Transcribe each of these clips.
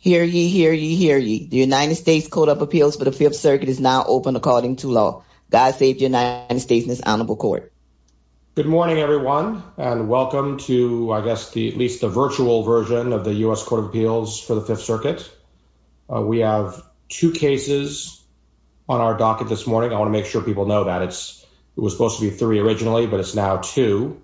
Hear ye, hear ye, hear ye. The United States Code of Appeals for the Fifth Circuit is now open according to law. God save the United States in this honorable court. Good morning, everyone, and welcome to, I guess, at least the virtual version of the U.S. Court of Appeals for the Fifth Circuit. We have two cases on our docket this morning. I want to make sure people know that. It was supposed to be three originally, but it's now two.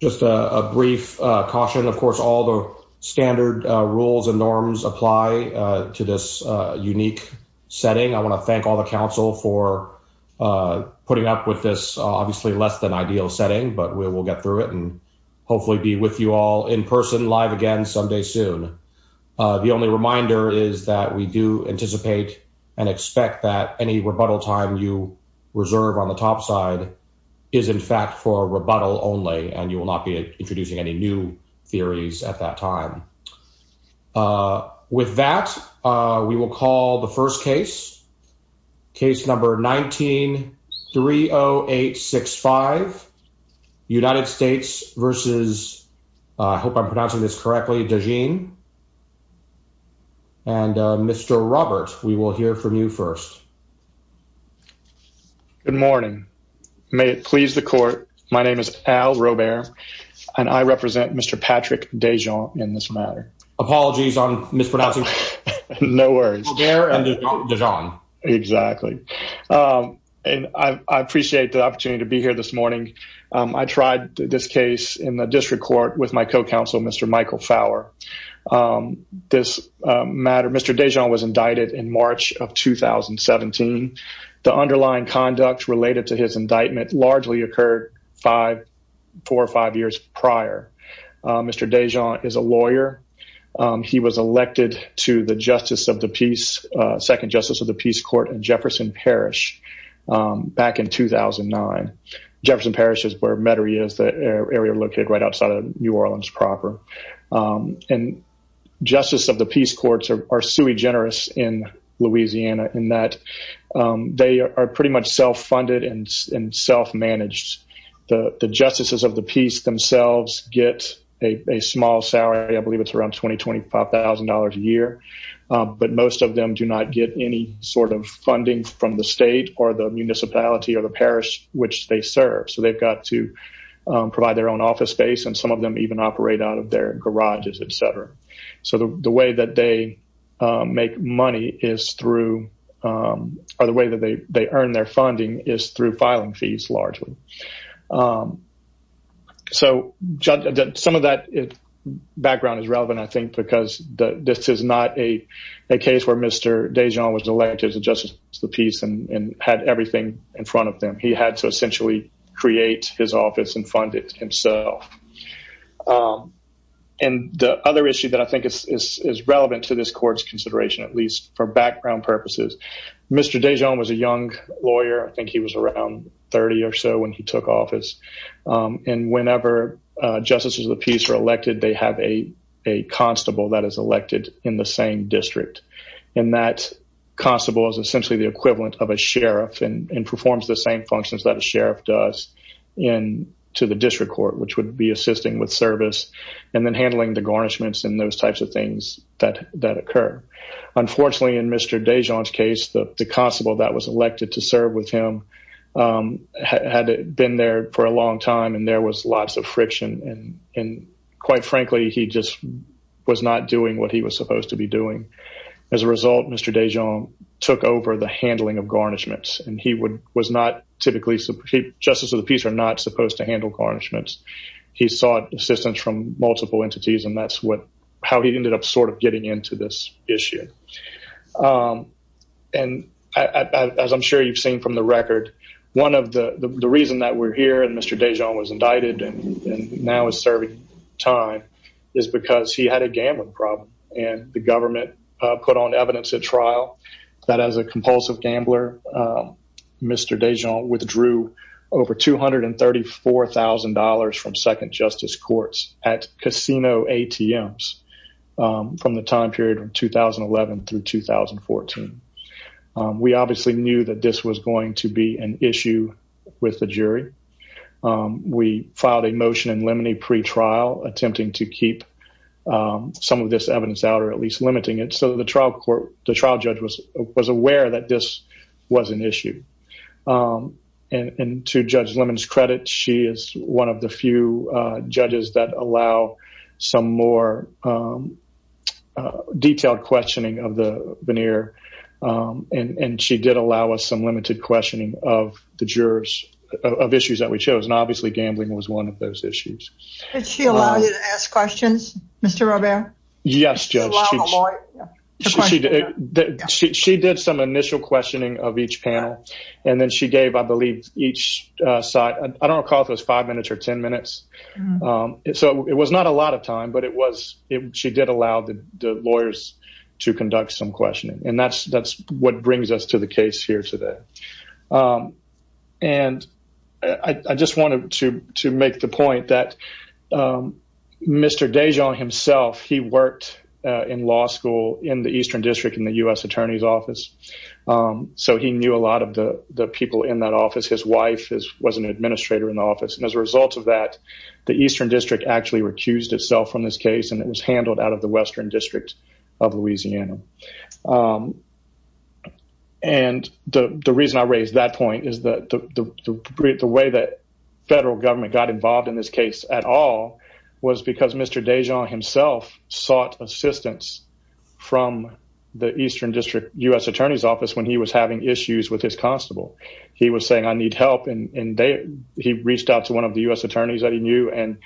Just a brief caution. Of course, all the standard rules and norms apply to this unique setting. I want to thank all the counsel for putting up with this obviously less than ideal setting, but we will get through it and hopefully be with you all in person live again someday soon. The only reminder is that we do anticipate and expect that any rebuttal time you reserve on the top side is, in fact, for rebuttal only, and you will not be introducing any new theories at that time. With that, we will call the first case, case number 19-30865, United States versus, I hope I'm pronouncing this correctly, Dejean, and Mr. Robert, we will hear from you first. Good morning. May it please the court, my name is Al Robert and I represent Mr. Patrick Dejean in this matter. Apologies on mispronouncing. No worries. Exactly. I appreciate the opportunity to be here this morning. I tried this case in the district court with my co-counsel, Mr. Michael Fowler. Mr. Dejean was indicted in March of 2017. The underlying conduct related to his indictment largely occurred four or five years prior. Mr. Dejean is a lawyer. He was elected to the Justice of the Peace, Second Justice of the Peace Court in Jefferson Parish back in 2009. Jefferson Parish is where Metairie is, the area located right outside of New Orleans proper. And Justices of the Peace Courts are sui generis in Louisiana in that they are pretty much self-funded and self-managed. The Justices of the Peace themselves get a small salary, I believe it's around $20,000 to $25,000 a year, but most of them do not get any sort of funding from the state or the municipality or the parish which they serve. So they've got to provide their own office space and some of them even operate out of their garages, etc. So the way that they make money is through, or the way that they earn their funding is through filing fees largely. So some of that background is relevant I think because this is not a case where Mr. Dejean was elected to the Justice of the Peace and had everything in front of them. He had to essentially create his office and fund it himself. And the other issue that I think is relevant to this court's consideration at least for background purposes, Mr. Dejean was a lawyer. I think he was around 30 or so when he took office. And whenever Justices of the Peace are elected, they have a constable that is elected in the same district. And that constable is essentially the equivalent of a sheriff and performs the same functions that a sheriff does to the district court, which would be assisting with service and then handling the garnishments and those types of things that occur. Unfortunately in Mr. Dejean's case, the constable that was elected to serve with him had been there for a long time and there was lots of friction. And quite frankly, he just was not doing what he was supposed to be doing. As a result, Mr. Dejean took over the handling of garnishments and he was not typically, Justices of the Peace are not supposed to handle garnishments. He sought assistance from multiple entities and that's how he ended up sort And as I'm sure you've seen from the record, one of the reasons that we're here and Mr. Dejean was indicted and now is serving time is because he had a gambling problem and the government put on evidence at trial that as a compulsive gambler, Mr. Dejean withdrew over $234,000 from second We obviously knew that this was going to be an issue with the jury. We filed a motion in Lemony pre-trial attempting to keep some of this evidence out or at least limiting it so the trial court, the trial judge was aware that this was an issue. And to Judge Lemon's credit, she is one of the few And she did allow us some limited questioning of the jurors of issues that we chose and obviously gambling was one of those issues. Did she allow you to ask questions, Mr. Robert? Yes, Judge. She did some initial questioning of each panel and then she gave, I believe, each side, I don't recall if it was five minutes or ten minutes. So it was not a lot of time but it was, she did allow the lawyers to conduct some questioning and that's what brings us to the case here today. And I just wanted to make the point that Mr. Dejean himself, he worked in law school in the Eastern District in the U.S. Attorney's Office. So he knew a lot of the people in that office. His wife was an administrator in the office and as a result of that, the Eastern District actually recused itself from this case and it was handled out of the Western District of Louisiana. And the reason I raise that point is that the way that federal government got involved in this case at all was because Mr. Dejean himself sought assistance from the Eastern District U.S. Attorney's Office when he was having issues with his constable. He was saying I need help and he reached out to one of the U.S. Attorneys that he knew and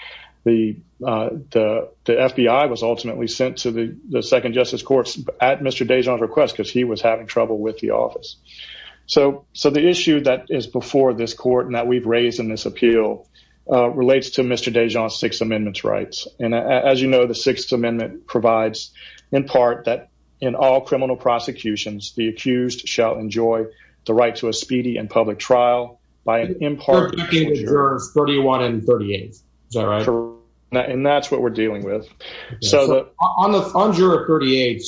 the FBI was ultimately sent to the second justice courts at Mr. Dejean's request because he was having trouble with the office. So the issue that is before this court and that we've raised in this appeal relates to Mr. Dejean's Sixth Amendment rights. And as you know, the Sixth Amendment provides in part that in all criminal jurors 31 and 38. Is that right? And that's what we're dealing with. So on juror 38,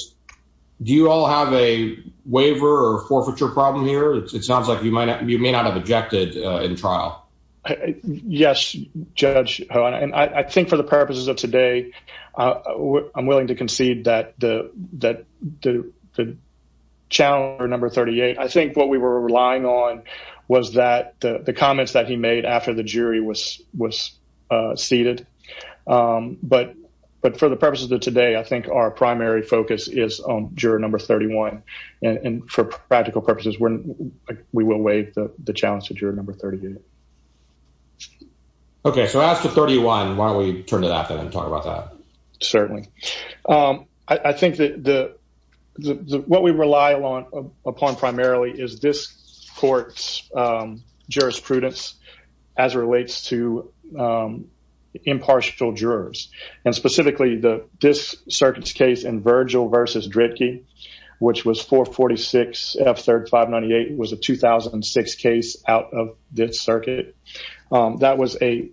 do you all have a waiver or forfeiture problem here? It sounds like you may not have objected in trial. Yes, Judge. And I think for the purposes of today, I'm willing to concede that the challenge number 38, I think what we were relying on was that the comments that he made after the jury was was seated. But but for the purposes of today, I think our primary focus is on juror number 31. And for practical purposes, we will waive the challenge to juror number 30. OK, so after 31, why don't we turn it up and talk about that? Certainly. I think that the what we rely upon primarily is this court's jurisprudence as it relates to impartial jurors and specifically the this circuit's case in Virgil versus Drittke, which was 446 F 3598 was a 2006 case out of this circuit. That was a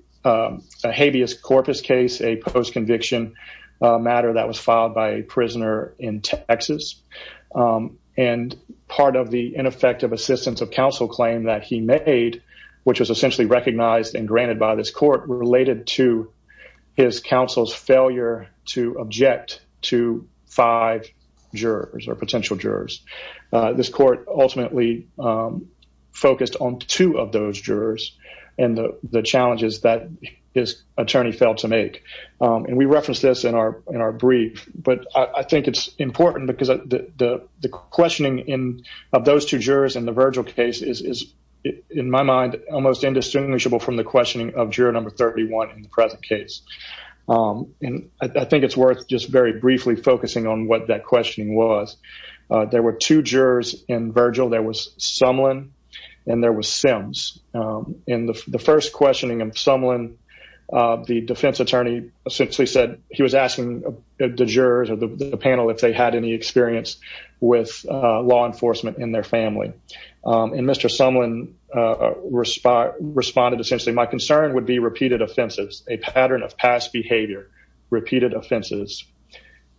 habeas corpus case, a post conviction matter that was filed by a prisoner in Texas. And part of the ineffective assistance of counsel claim that he made, which was essentially recognized and granted by this court related to his counsel's failure to object to five jurors or potential jurors. This court ultimately focused on two of those jurors and the challenges that his attorney failed to make. And we reference this in our in our brief. But I think it's important because the questioning in of those two jurors in the Virgil case is, in my mind, almost indistinguishable from the questioning of juror number 31 in the present case. And I think it's worth just very briefly focusing on what that questioning was. There were two jurors in Virgil. There was Sumlin. The defense attorney essentially said he was asking the jurors of the panel if they had any experience with law enforcement in their family. And Mr. Sumlin responded, essentially, my concern would be repeated offenses, a pattern of past behavior, repeated offenses.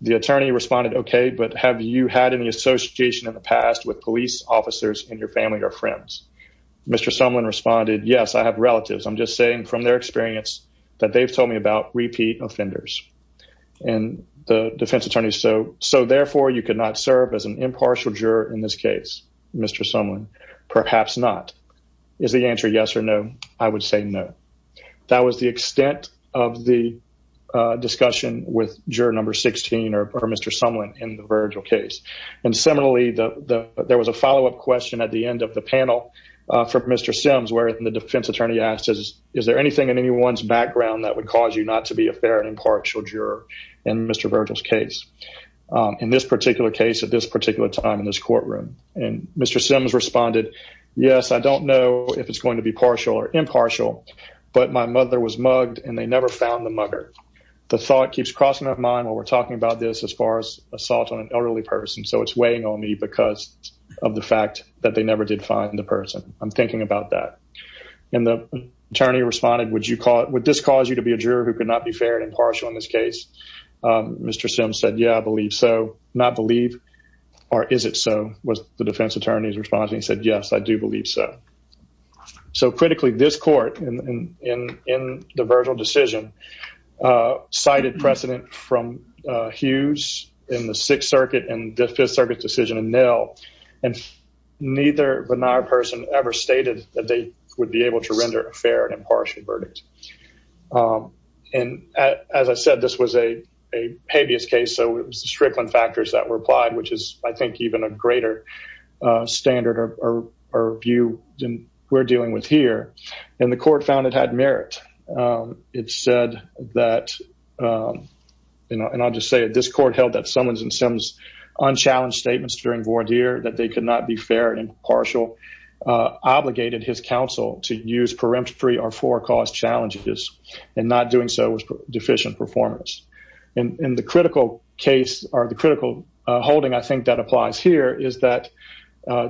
The attorney responded, OK, but have you had any association in the past with police officers in your family or friends? Mr. Sumlin responded, yes, I have relatives. I'm just saying from their experience that they've told me about repeat offenders. And the defense attorney, so therefore you could not serve as an impartial juror in this case, Mr. Sumlin, perhaps not. Is the answer yes or no? I would say no. That was the extent of the discussion with juror number 16 or Mr. Sumlin in the Virgil case. And similarly, there was a follow-up question at the end of the panel from Mr. Sims, where the defense attorney asked, is there anything in anyone's background that would cause you not to be a fair and impartial juror in Mr. Virgil's case, in this particular case at this particular time in this courtroom? And Mr. Sims responded, yes, I don't know if it's going to be partial or impartial, but my mother was mugged and they never found the mugger. The thought keeps crossing my mind while we're talking about this, as far as assault on an elderly person. So it's weighing on me because of the fact that they never did find the person. I'm thinking about that. And the attorney responded, would you call it, would this cause you to be a juror who could not be fair and impartial in this case? Mr. Sims said, yeah, I believe so. Not believe, or is it so, was the defense attorney's response. He said, yes, I do believe so. So critically, this court in the Virgil decision cited precedent from Hughes in the Sixth Circuit and the Fifth Circuit decision in Nell, and neither benign person ever stated that they would be able to render a fair and impartial verdict. And as I said, this was a habeas case, so it was the Strickland factors that were applied, which is, I think, a greater standard or view than we're dealing with here. And the court found it had merit. It said that, and I'll just say it, this court held that Simons and Sims' unchallenged statements during voir dire, that they could not be fair and impartial, obligated his counsel to use peremptory or forecast challenges, and not doing so was deficient performance. And the critical case, or the critical holding, I think, that applies here is that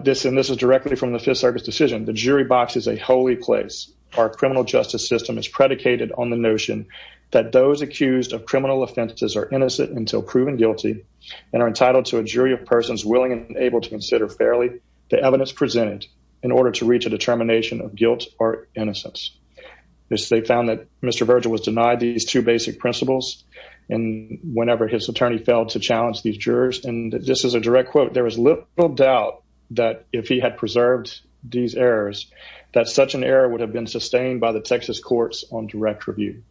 this, and this is directly from the Fifth Circuit's decision, the jury box is a holy place. Our criminal justice system is predicated on the notion that those accused of criminal offenses are innocent until proven guilty and are entitled to a jury of persons willing and able to consider fairly the evidence presented in order to reach a determination of guilt or innocence. They found that Mr. Virgil was denied these two basic principles, and whenever his attorney failed to challenge these jurors, and this is a direct quote, there was little doubt that if he had preserved these errors, that such an error would have been sustained by the Texas courts on direct review.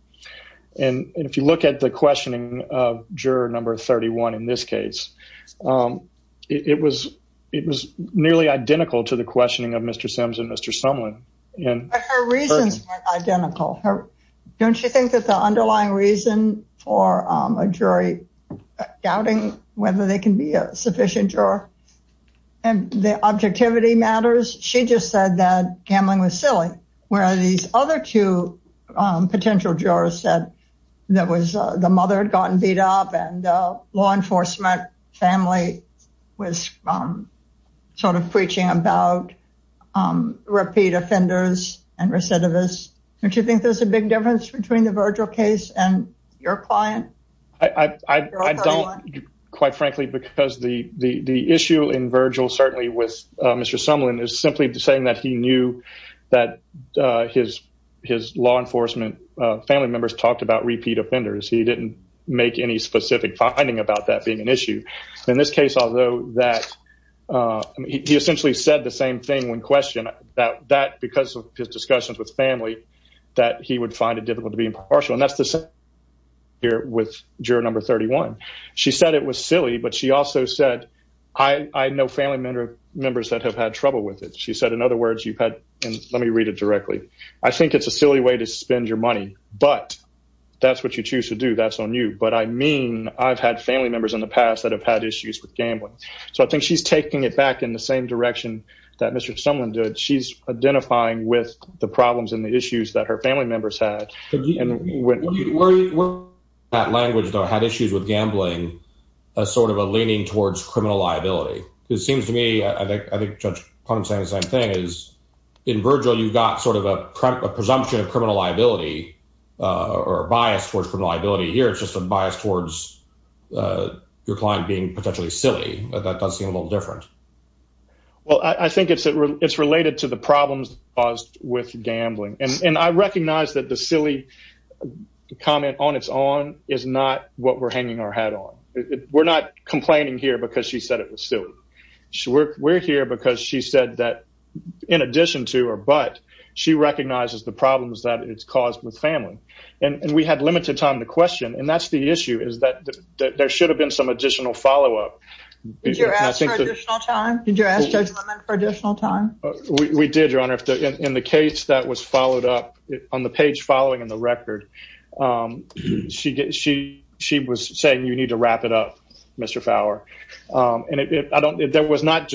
And if you look at the questioning of juror number 31 in this case, it was nearly identical to the questioning of Mr. Sims and Mr. Sumlin. Her reasons were identical. Don't you think that the underlying reason for a jury doubting whether they can be a sufficient juror and the objectivity matters? She just said that gambling was silly, where these other two potential jurors said that the mother had gotten beat up and the family was sort of preaching about repeat offenders and recidivists. Don't you think there's a big difference between the Virgil case and your client? I don't, quite frankly, because the issue in Virgil, certainly with Mr. Sumlin, is simply saying that he knew that his law enforcement family members talked about repeat offenders. He didn't make any finding about that being an issue. In this case, although that he essentially said the same thing when questioned, that because of his discussions with family, that he would find it difficult to be impartial. And that's the same here with juror number 31. She said it was silly, but she also said, I know family members that have had trouble with it. She said, in other words, you've had, and let me read it directly. I think it's a silly way to spend your money, but that's what you I've had family members in the past that have had issues with gambling. So I think she's taking it back in the same direction that Mr. Sumlin did. She's identifying with the problems and the issues that her family members had. That language, though, had issues with gambling as sort of a leaning towards criminal liability. It seems to me, I think Judge Pond's saying the same thing, is in Virgil, you've got sort of a presumption of criminal liability or bias towards criminal liability. Your client being potentially silly, that does seem a little different. Well, I think it's related to the problems caused with gambling. And I recognize that the silly comment on its own is not what we're hanging our hat on. We're not complaining here because she said it was silly. We're here because she said that in addition to or but, she recognizes the problems that it's caused with family. And we had limited time to question. And that's the issue, is that there should have been some additional follow-up. Did you ask for additional time? Did you ask Judge Lemon for additional time? We did, Your Honor. In the case that was followed up on the page following in the record, she was saying you need to wrap it up, Mr. Fowler. And there was not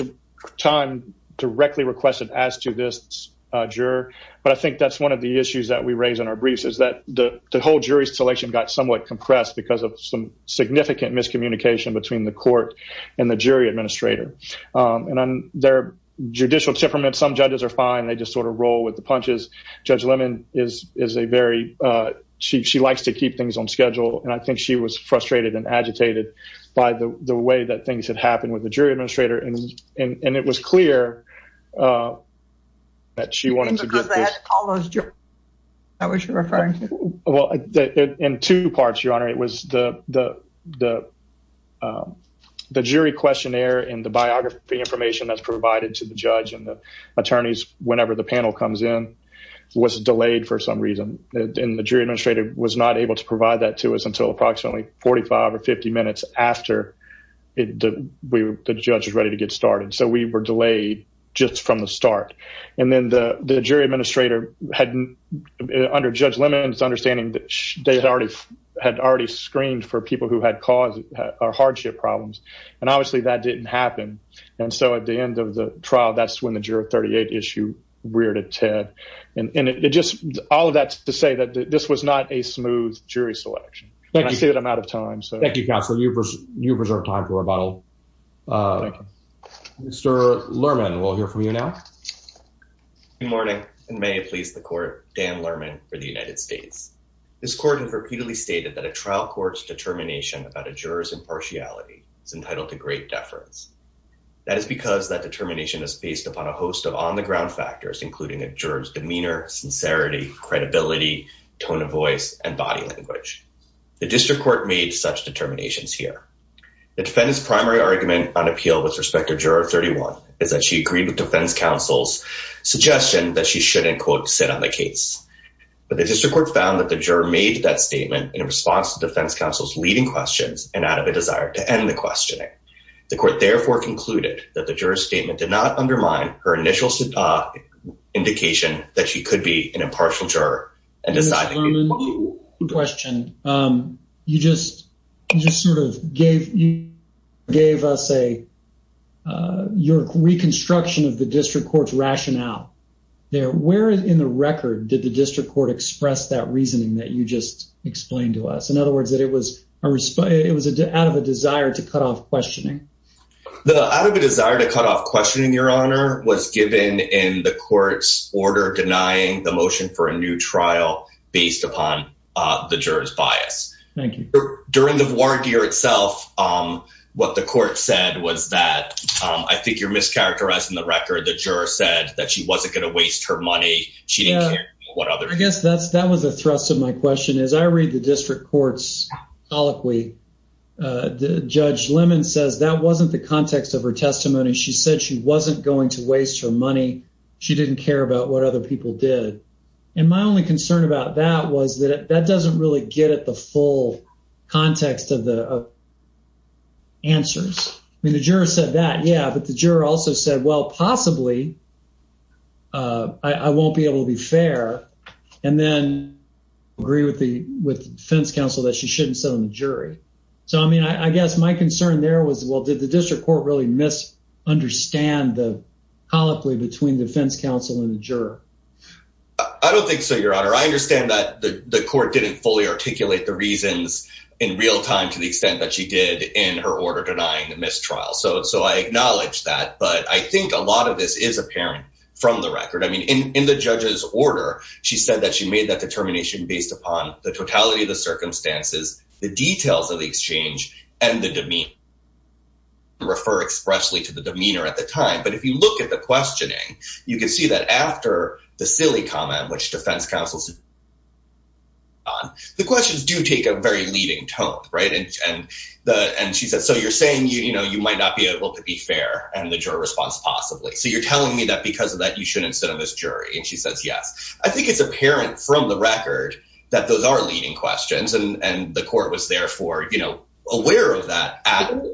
time directly requested as to this juror. But I think that's one of the issues that we raise in our briefs, is that the whole jury selection got somewhat compressed because of some significant miscommunication between the court and the jury administrator. And on their judicial temperament, some judges are fine. They just sort of roll with the punches. Judge Lemon is a very, she likes to keep things on schedule. And I think she was frustrated and agitated by the way that things had happened with the jury administrator. And it was clear that she wanted to get this. You think because they had to call the jury? That's what you're referring to? Well, in two parts, Your Honor. It was the jury questionnaire and the biography information that's provided to the judge and the attorneys whenever the panel comes in was delayed for some reason. And the jury administrator was not able to provide that to us until approximately 45 or 50 minutes after the judge was ready to get started. So we were delayed just from the start. And then the jury administrator had under Judge Lemon's understanding that they had already had already screened for people who had caused our hardship problems. And obviously that didn't happen. And so at the end of the trial, that's when the juror 38 issue reared its head. And it just all of that's to say that this was not a smooth jury selection. And I see that I'm out of time. Thank you, Counselor. You preserve time for the panel. Mr. Lerman, we'll hear from you now. Good morning. May I please the court, Dan Lerman for the United States. This court has repeatedly stated that a trial court's determination about a juror's impartiality is entitled to great deference. That is because that determination is based upon a host of on the ground factors, including a juror's demeanor, sincerity, credibility, tone of voice, and body language. The district court made such determinations here. The defendant's primary argument on appeal with respect to juror 31 is that she agreed with defense counsel's suggestion that she shouldn't, quote, sit on the case. But the district court found that the juror made that statement in response to defense counsel's leading questions and out of a desire to end the questioning. The court therefore concluded that the juror's statement did not undermine her initial indication that she could be an impartial juror. Mr. Lerman, you just sort of gave us your reconstruction of the district court's rationale. Where in the record did the district court express that reasoning that you just explained to us? In other words, that it was out of a desire to cut off questioning. The out of a desire to cut off questioning, your honor, was given in the court's order denying the based upon the juror's bias. Thank you. During the war gear itself, what the court said was that I think you're mischaracterizing the record. The juror said that she wasn't going to waste her money. She didn't care what other. I guess that's that was a thrust of my question. As I read the district court's colloquy, Judge Lemon says that wasn't the context of her testimony. She said she wasn't going to waste her money. She didn't care about what other people did. And my only concern about that was that that doesn't really get at the full context of the answers. I mean, the juror said that. Yeah. But the juror also said, well, possibly I won't be able to be fair and then agree with the with the defense counsel that she shouldn't sit on the jury. So, I mean, I guess my concern there was, well, did the district court really misunderstand the between defense counsel and the juror? I don't think so, your honor. I understand that the court didn't fully articulate the reasons in real time to the extent that she did in her order denying the mistrial. So so I acknowledge that. But I think a lot of this is apparent from the record. I mean, in the judge's order, she said that she made that determination based upon the totality of the circumstances, the details of the exchange and the demeanor. Refer expressly to the demeanor at the time. But if you look at the questioning, you can see that after the silly comment, which defense counsels. The questions do take a very leading tone, right? And the and she said, so you're saying, you know, you might not be able to be fair and the jury response possibly. So you're telling me that because of that, you shouldn't sit on this jury. And she says, yes, I think it's apparent from the record that those are leading questions. And the court was therefore, you know, aware of that.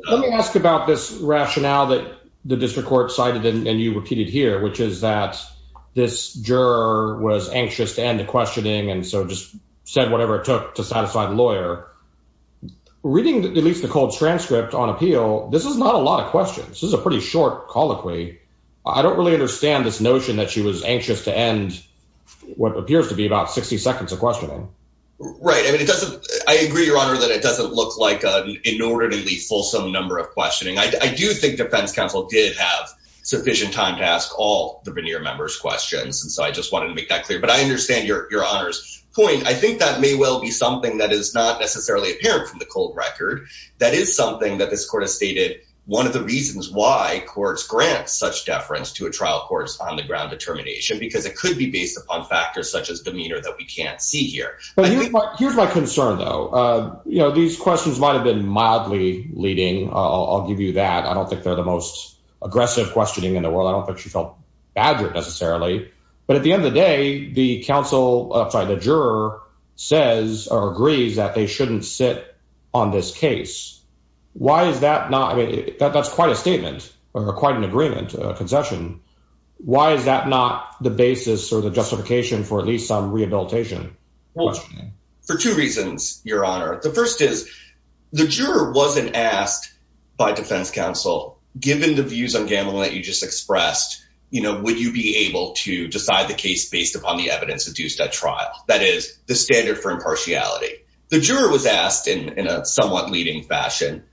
Let me ask about this rationale that the district court cited and you repeated here, which is that this juror was anxious to end the questioning and so just said whatever it took to satisfy the lawyer. Reading at least the cold transcript on appeal. This is not a lot of questions. This is a pretty short colloquy. I don't really understand this notion that she was anxious to end what appears to be about 60 seconds of questioning. Right. I agree, your honor, that it doesn't look like an inordinately fulsome number of questioning. I do think defense counsel did have sufficient time to ask all the veneer members questions. And so I just wanted to make that clear. But I understand your honor's point. I think that may well be something that is not necessarily apparent from the cold record. That is something that this court has stated. One of the reasons why courts grant such deference to a trial court on the ground determination, because it could be based upon factors such as demeanor that we can't see here. But here's my concern, though. You know, these questions might have been mildly leading. I'll give you that. I don't think they're the most aggressive questioning in the world. I don't think she felt badgered necessarily. But at the end of the day, the counsel of the juror says or agrees that they shouldn't sit on this case. Why is that not? That's quite a statement or quite an agreement concession. Why is that not the basis or the justification for at least some rehabilitation? For two reasons, your honor. The first is the juror wasn't asked by defense counsel, given the views on gambling that you just expressed, you know, would you be able to decide the case based upon the evidence deduced at trial? That is the standard for impartiality. The juror was asked in a somewhat leading fashion.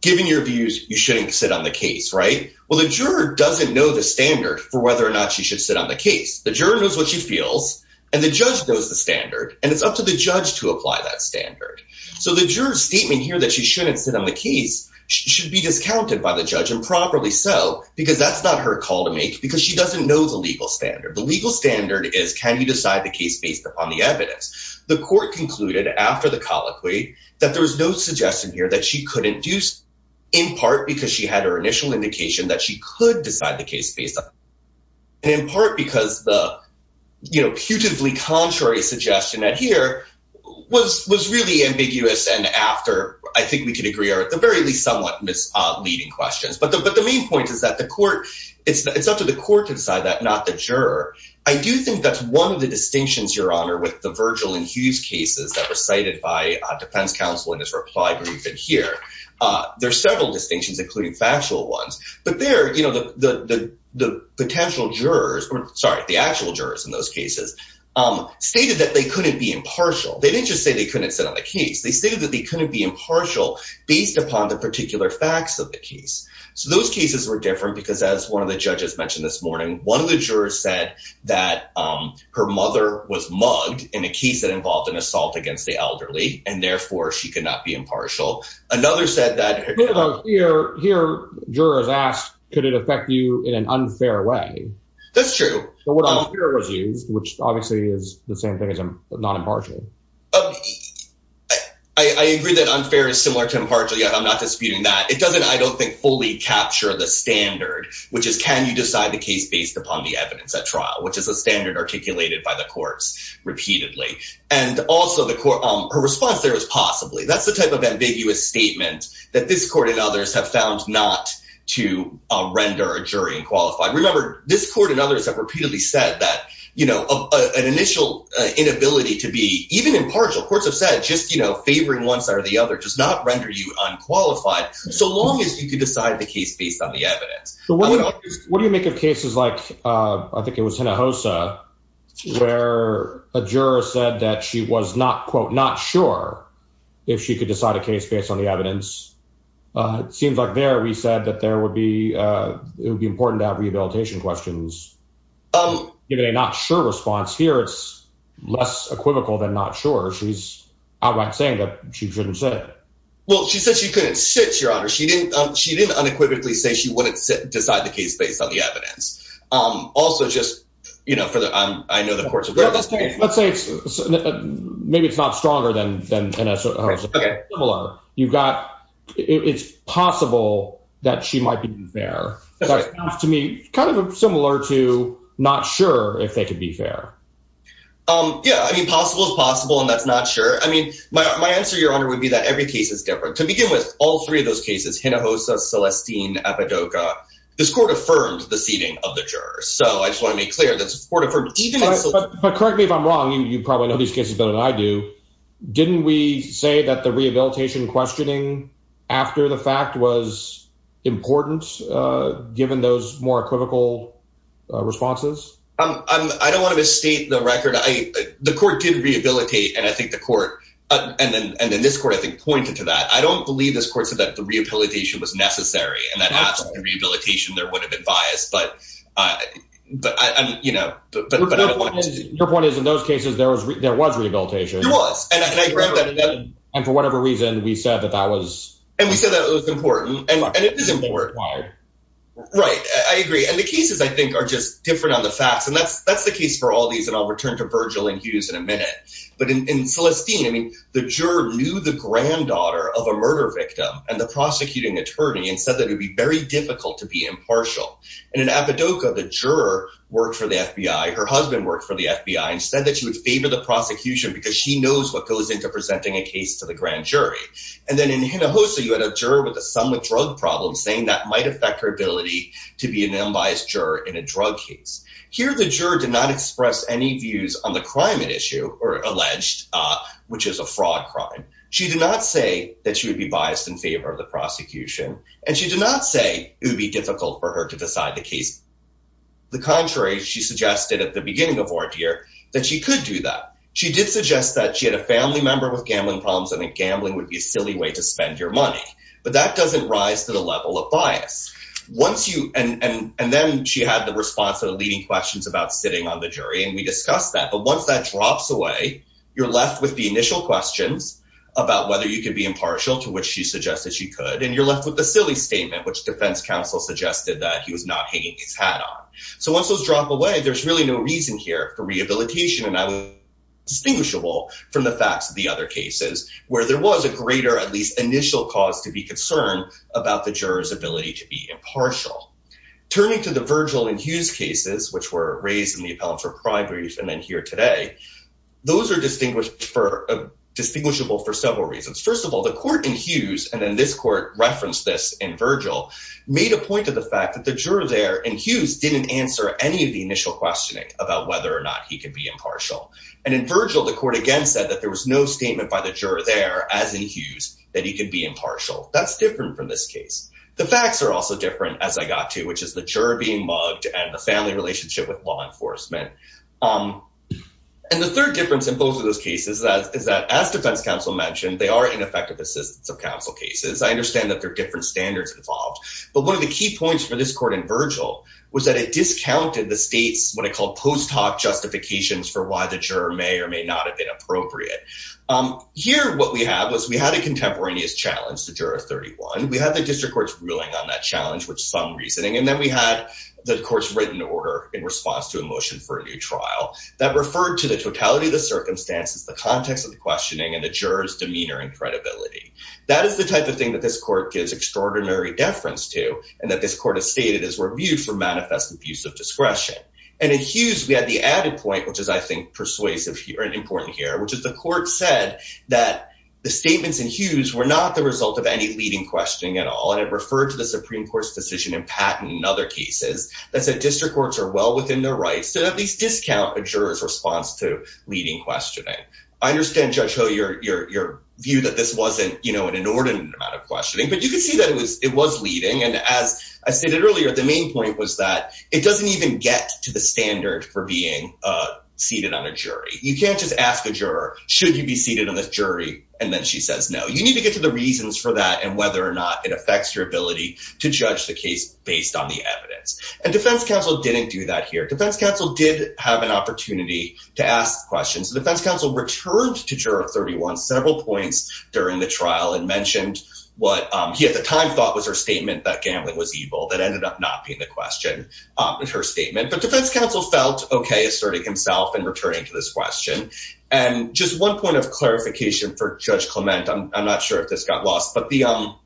Given your views, you shouldn't sit on the case, right? Well, the juror doesn't know the standard for whether or not she should sit on the case. The juror knows what she feels and the judge knows the standard, and it's up to the judge to apply that standard. So the juror's statement here that she shouldn't sit on the case should be discounted by the judge improperly. So because that's not her call to make, because she doesn't know the legal standard. The legal standard is can you decide the case based upon the evidence? The court concluded after the colloquy that there was no suggestion here that she couldn't use in part because she had her initial indication that she could decide the case based on, in part because the, you know, putatively contrary suggestion that here was really ambiguous and after, I think we could agree are at the very least somewhat misleading questions. But the main point is that the court, it's up to the court to decide that, not the juror. I do think that's one of the distinctions, Your Honor, with the Virgil and Hughes cases that were cited by defense counsel in this reply brief here. There are several distinctions, including factual ones, but there, you know, the potential jurors, sorry, the actual jurors in those cases stated that they couldn't be impartial. They didn't just say they couldn't sit on the case. They stated that they couldn't be impartial based upon the particular facts of the case. So those cases were different because as one of the judges mentioned this morning, one of the jurors said that her mother was mugged in a case that involved an assault against the elderly. And therefore she could not be impartial. Another said that here, jurors asked, could it affect you in an unfair way? That's true. But what unfair was used, which obviously is the same thing as not impartial. I agree that unfair is similar to impartial. I'm not disputing that. It doesn't, I don't think, fully capture the standard, which is, can you decide the case based upon the evidence at trial, which is a standard articulated by the courts repeatedly. And also the court, her response there is possibly, that's the type of ambiguous statement that this court and others have found not to render a jury unqualified. Remember this court and others have repeatedly said that, you know, an initial inability to be even impartial courts have said, just, you know, favoring one side or the other does not render you unqualified so long as you can decide the case based on the evidence. What do you make of cases like, I think it was Hinojosa where a juror said that she was not, quote, not sure if she could decide a case based on the evidence. It seems like there, we said that there would be, it would be important to have rehabilitation questions. Given a not sure response here, it's less equivocal than not sure. She's outright saying that she shouldn't sit. Well, she said she couldn't sit, your honor. She didn't, she didn't unequivocally say she wouldn't decide the case based on the evidence. Also just, you know, for the, I know the courts. Let's say maybe it's not stronger than, than similar. You've got, it's possible that she might be fair to me, kind of similar to not sure if they could be fair. Yeah. I mean, possible is possible and that's not sure. I mean, my answer, your honor, would be that every case is different to begin with all three of those cases, Hinojosa, Celestine, Epidoka, this court affirmed the seating of the jurors. So I just want to make clear that support of her. But correct me if I'm wrong, you probably know these cases better than I do. Didn't we say that the rehabilitation questioning after the fact was important, given those more equivocal responses? I don't want to misstate the record. I, the court did rehabilitate. And I think the court, and then, and then this court, I think pointed to that. I don't believe this court said that the rehabilitation was necessary and that absolutely rehabilitation there would have been biased. But, but I, you know, but, but your point is in those cases, there was, there was rehabilitation. And for whatever reason we said that that was, and we said that it was important and it is important. Right. I agree. And the cases I think are just different on the facts. And that's, that's the case for all these. And I'll return to Virgil and Hughes in a minute, but in Celestine, I mean, the juror knew the granddaughter of a murder victim and the prosecuting attorney and said that it would be very difficult to be impartial. And in Apodaca, the juror worked for the FBI, her husband worked for the FBI and said that she would favor the prosecution because she knows what goes into presenting a case to the grand jury. And then in Hinojosa, you had a juror with a somewhat drug problem saying that might affect her ability to be an unbiased juror in a drug case. Here, the juror did not express any views on the crime at issue or alleged, which is a fraud crime. She did not say that she would be biased in favor of the prosecution. And she did not say it would be difficult for her to decide the case. The contrary, she suggested at the beginning of Ordear that she could do that. She did suggest that she had a family member with gambling problems and that gambling would be a silly way to spend your money, but that doesn't rise to the level of bias. Once you, and then she had the response to the leading questions about sitting on the jury. And we discussed that, but once that drops away, you're left with the initial questions about whether you could be impartial to which she suggested she could, and you're left with the silly statement, which defense counsel suggested that he was not hanging his hat on. So once those drop away, there's really no reason here for rehabilitation. And I was distinguishable from the facts of the other cases where there was a greater, at least initial cause to be concerned about the juror's ability to be impartial. Turning to the Virgil and Hughes cases, which were raised in the appellate for crime brief. And then here today, those are distinguished for distinguishable for several reasons. First of all, the court in Hughes, and then this court referenced this in Virgil made a point to the fact that the juror there and Hughes didn't answer any of the initial questioning about whether or not he could be impartial. And in Virgil, the court against that, that there was no statement by the juror there as in Hughes, that he could be impartial. That's different from this case. The facts are also different as I got to, which is the juror being mugged and the family relationship with law enforcement. And the third difference in both of those cases is that as defense counsel mentioned, they are ineffective assistance of counsel cases. I understand that there are different standards involved, but one of the key points for this court in Virgil was that it discounted the state's, what I call post hoc justifications for why the juror may or may not have been appropriate. Here, what we have was we had a contemporaneous challenge to juror 31. We had the district court's ruling on that the court's written order in response to a motion for a new trial that referred to the totality of the circumstances, the context of the questioning and the juror's demeanor and credibility. That is the type of thing that this court gives extraordinary deference to and that this court has stated is reviewed for manifest abuse of discretion. And in Hughes, we had the added point, which is I think persuasive here and important here, which is the court said that the statements in Hughes were not the result of any leading questioning at all. And it referred to the Supreme Court's decision in other cases that said district courts are well within their rights to at least discount a juror's response to leading questioning. I understand Judge Ho your view that this wasn't an inordinate amount of questioning, but you could see that it was leading. And as I stated earlier, the main point was that it doesn't even get to the standard for being seated on a jury. You can't just ask a juror, should you be seated on this jury? And then she says, no, you need to get to the reasons for that and whether or not it affects your ability to judge the case based on the evidence. And defense counsel didn't do that here. Defense counsel did have an opportunity to ask questions. The defense counsel returned to juror 31 several points during the trial and mentioned what he at the time thought was her statement that gambling was evil. That ended up not being the question in her statement. But defense counsel felt okay asserting himself and returning to this question. And just one point of clarification for Judge Clement, I'm not sure if this got lost, but the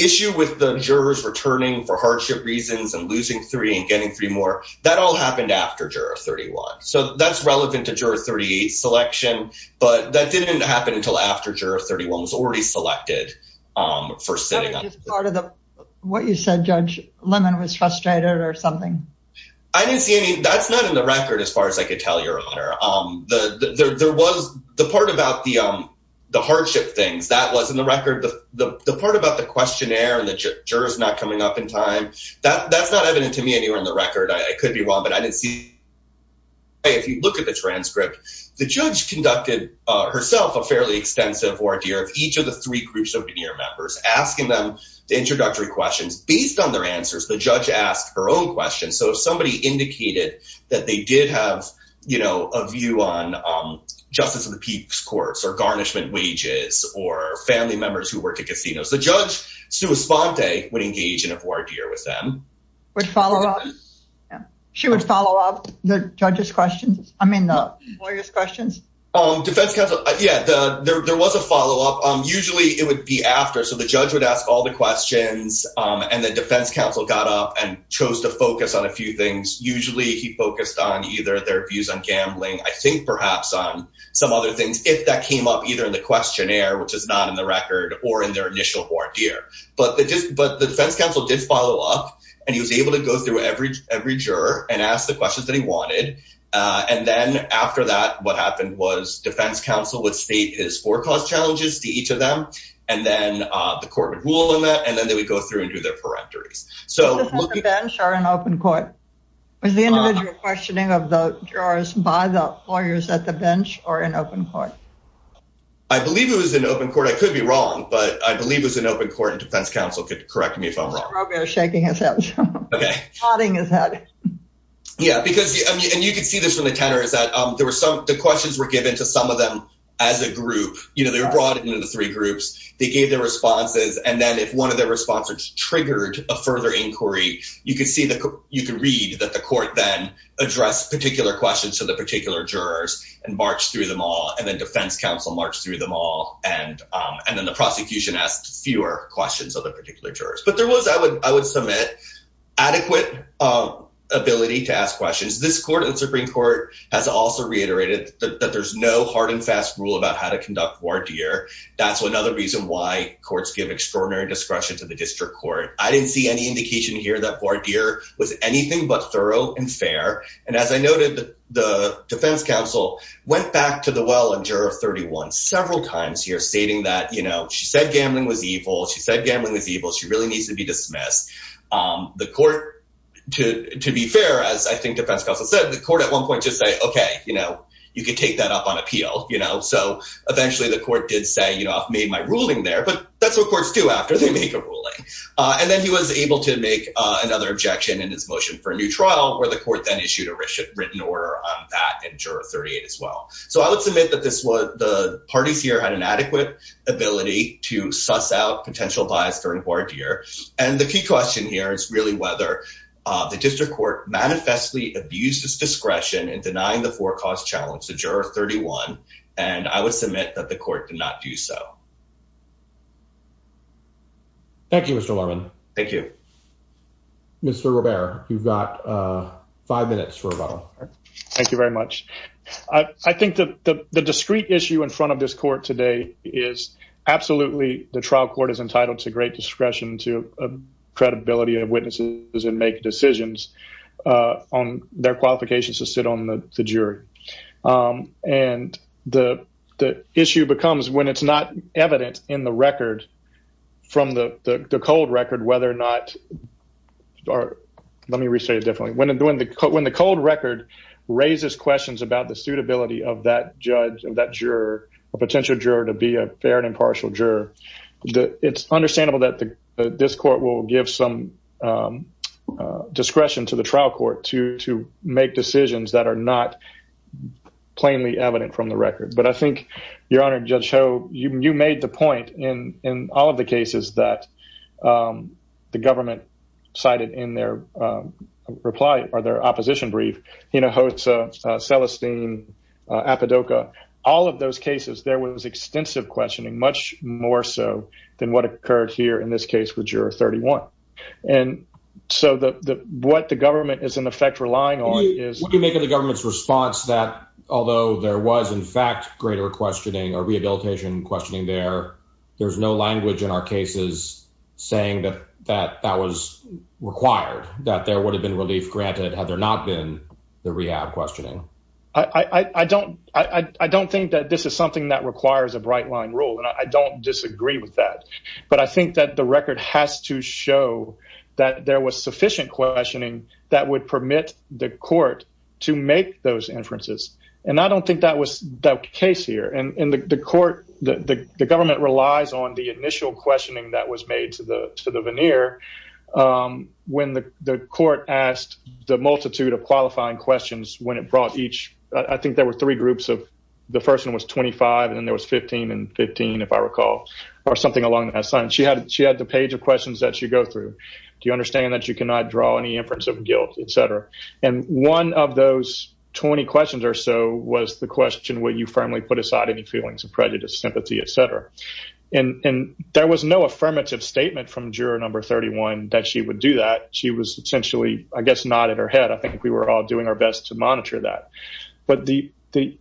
issue with the jurors returning for hardship reasons and losing three and getting three more that all happened after juror 31. So that's relevant to juror 38 selection. But that didn't happen until after juror 31 was already selected for sitting on part of the what you said Judge Lemon was frustrated or something. I didn't see any that's not in the record as far as I could tell your honor. There was the part about the hardship things that was in the record, the part about the questionnaire and the jurors not coming up in time. That's not evident to me anywhere in the record. I could be wrong, but I didn't see. If you look at the transcript, the judge conducted herself a fairly extensive ordeal of each of the three groups of your members asking them the introductory questions based on their answers. The judge asked her own questions. So if somebody indicated that they did have, you know, a view on justice of the people's courts or garnishment wages or family members who work at casinos, the judge, Sue Esponte, would engage in a board here with them would follow up. She would follow up the judge's questions. I mean, the lawyers questions on defense. Yeah, there was a follow up. Usually it would be after. So the judge would ask all the questions and the defense counsel got up and chose to focus on a few things. Usually he focused on either their views on gambling, I think perhaps on some other things, if that came up either in the questionnaire, which is not in the record or in their initial board here. But but the defense counsel did follow up and he was able to go through every every juror and ask the questions that he wanted. And then after that, what happened was defense counsel would state his forecast challenges to each of them. And then the court would rule on that. And then they would go through and do their correctors. So the bench or an open court was the individual questioning of the jurors by the lawyers at the bench or an open court. I believe it was an open court. I could be wrong, but I believe it was an open court and defense counsel could correct me if I'm shaking his head. OK, nodding his head. Yeah, because and you could see this from the tenor is that there were some the questions were given to some of them. As a group, you know, they were brought into the three groups. They gave their responses. And then if one of their responses triggered a further inquiry, you could see that you could read that the court then addressed particular questions to the particular jurors and marched through them all. And then defense counsel marched through them all. And and then the prosecution asked fewer questions of the particular jurors. But there was, I would I would submit adequate ability to ask questions. This court and Supreme Court has also reiterated that there's no hard and soft rule about how to conduct voir dire. That's another reason why courts give extraordinary discretion to the district court. I didn't see any indication here that voir dire was anything but thorough and fair. And as I noted, the defense counsel went back to the well and juror 31 several times here stating that, you know, she said gambling was evil. She said gambling was evil. She really needs to be dismissed. The court, to be fair, as I think defense counsel said, the court at one point just say, OK, you know, you could take that up on appeal, you know. So eventually the court did say, you know, I've made my ruling there, but that's what courts do after they make a ruling. And then he was able to make another objection in his motion for a new trial where the court then issued a written order on that and juror 38 as well. So I would submit that this was the parties here had an adequate ability to suss out potential bias during voir dire. And the key question here is really whether the district court manifestly abused its discretion in denying the four cause challenge to juror 31. And I would submit that the court did not do so. Thank you, Mr. Lerman. Thank you. Mr. Robert, you've got five minutes for rebuttal. Thank you very much. I think that the discrete issue in front of this court today is absolutely the trial court is entitled to great discretion, to credibility of witnesses and make decisions on their qualifications to sit on the jury. And the issue becomes when it's not evident in the record from the cold record, whether or not, or let me restate it differently. When the cold record raises questions about the suitability of that judge and that juror, a potential juror to be a fair and impartial juror, it's understandable that this court will give some discretion to the trial court to make decisions that are not plainly evident from the record. But I think, Your Honor, Judge Ho, you made the point in all of the cases that the government cited in their reply or their opposition brief, Hinojosa, Celestine, Apodaca, all of those cases, there was extensive questioning, much more so than what occurred here in this case with Juror 31. And so what the government is, in effect, relying on is... What do you make of the government's response that although there was, in fact, greater questioning or rehabilitation questioning there, there's no language in our cases saying that that was required, that there would have been relief granted had there not been the rehab questioning? I don't think that this is something that requires a bright line rule, and I don't disagree with that. But I think that the record has to show that there was sufficient questioning that would permit the court to make those inferences. And I don't think that was the case here. And the court, the government relies on the initial questioning that was made to the near when the court asked the multitude of qualifying questions when it brought each... I think there were three groups of... The first one was 25, and then there was 15 and 15, if I recall, or something along that side. And she had the page of questions that she'd go through. Do you understand that you cannot draw any inference of guilt, et cetera? And one of those 20 questions or so was the question, will you firmly put aside any feelings of prejudice, sympathy, et cetera? And there was no affirmative statement from juror number 31 that she would do that. She was essentially, I guess, nodding her head. I think we were all doing our best to monitor that. But the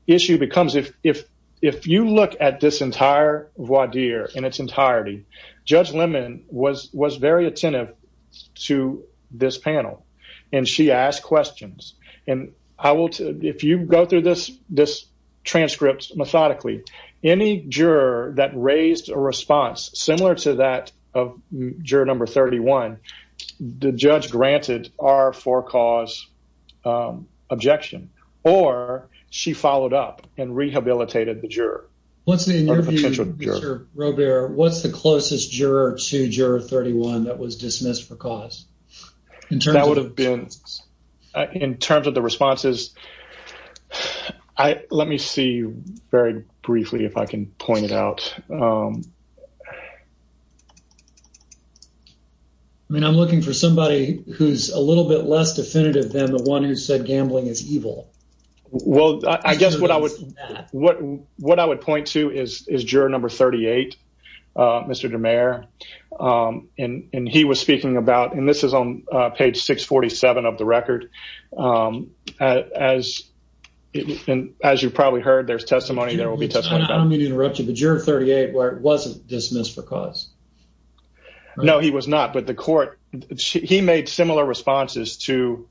issue becomes, if you look at this entire voir dire in its entirety, Judge Lemon was very attentive to this panel, and she asked questions. And if you go through this transcript methodically, any juror that raised a response similar to that of juror number 31, the judge granted our for cause objection, or she followed up and rehabilitated the juror. What's the, in your view, Mr. Robert, what's the closest juror to juror 31 that was dismissed for very briefly, if I can point it out? I mean, I'm looking for somebody who's a little bit less definitive than the one who said gambling is evil. Well, I guess what I would point to is juror number 38, Mr. DeMare. And he was speaking about, and this is on page 647 of the record, as you've probably heard, there's testimony, there will be testimony. I don't mean to interrupt you, but juror 38 wasn't dismissed for cause. No, he was not. But the court, he made similar responses to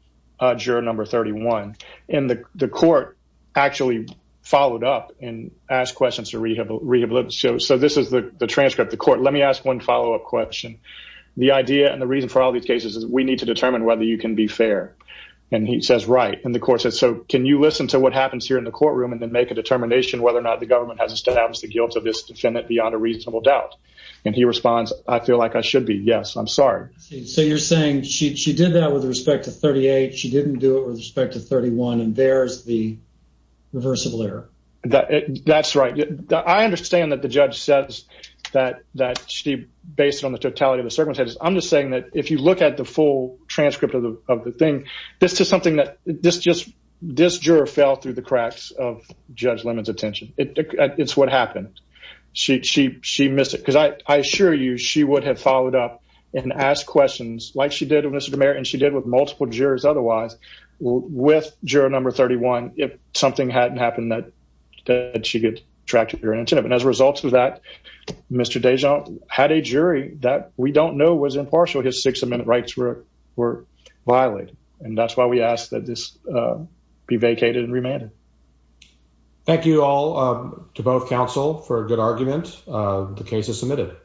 juror number 31. And the court actually followed up and asked questions to rehabilitate. So this is the transcript. The court, let me ask one follow-up question. The idea and the reason for all these cases is we need to determine whether you can be fair. And he says, right. And the court says, so can you listen to what happens here in the courtroom and then make a determination whether or not the government has established the guilt of this defendant beyond a reasonable doubt? And he responds, I feel like I should be. Yes, I'm sorry. So you're saying she did that with respect to 38. She didn't do it with respect to 31. And there's the reversible error. That's right. I understand that the judge says that she based it on the totality of the circumstances. I'm just if you look at the full transcript of the thing, this is something that this juror fell through the cracks of Judge Lemon's attention. It's what happened. She missed it. Because I assure you, she would have followed up and asked questions like she did with Mr. DeMera and she did with multiple jurors otherwise with juror number 31 if something hadn't happened that she could track to her intent. And as a result of that, Mr. Dijon had a jury that we don't know was impartial. His six-minute rights were violated. And that's why we ask that this be vacated and remanded. Thank you all to both counsel for a good argument. The case is submitted.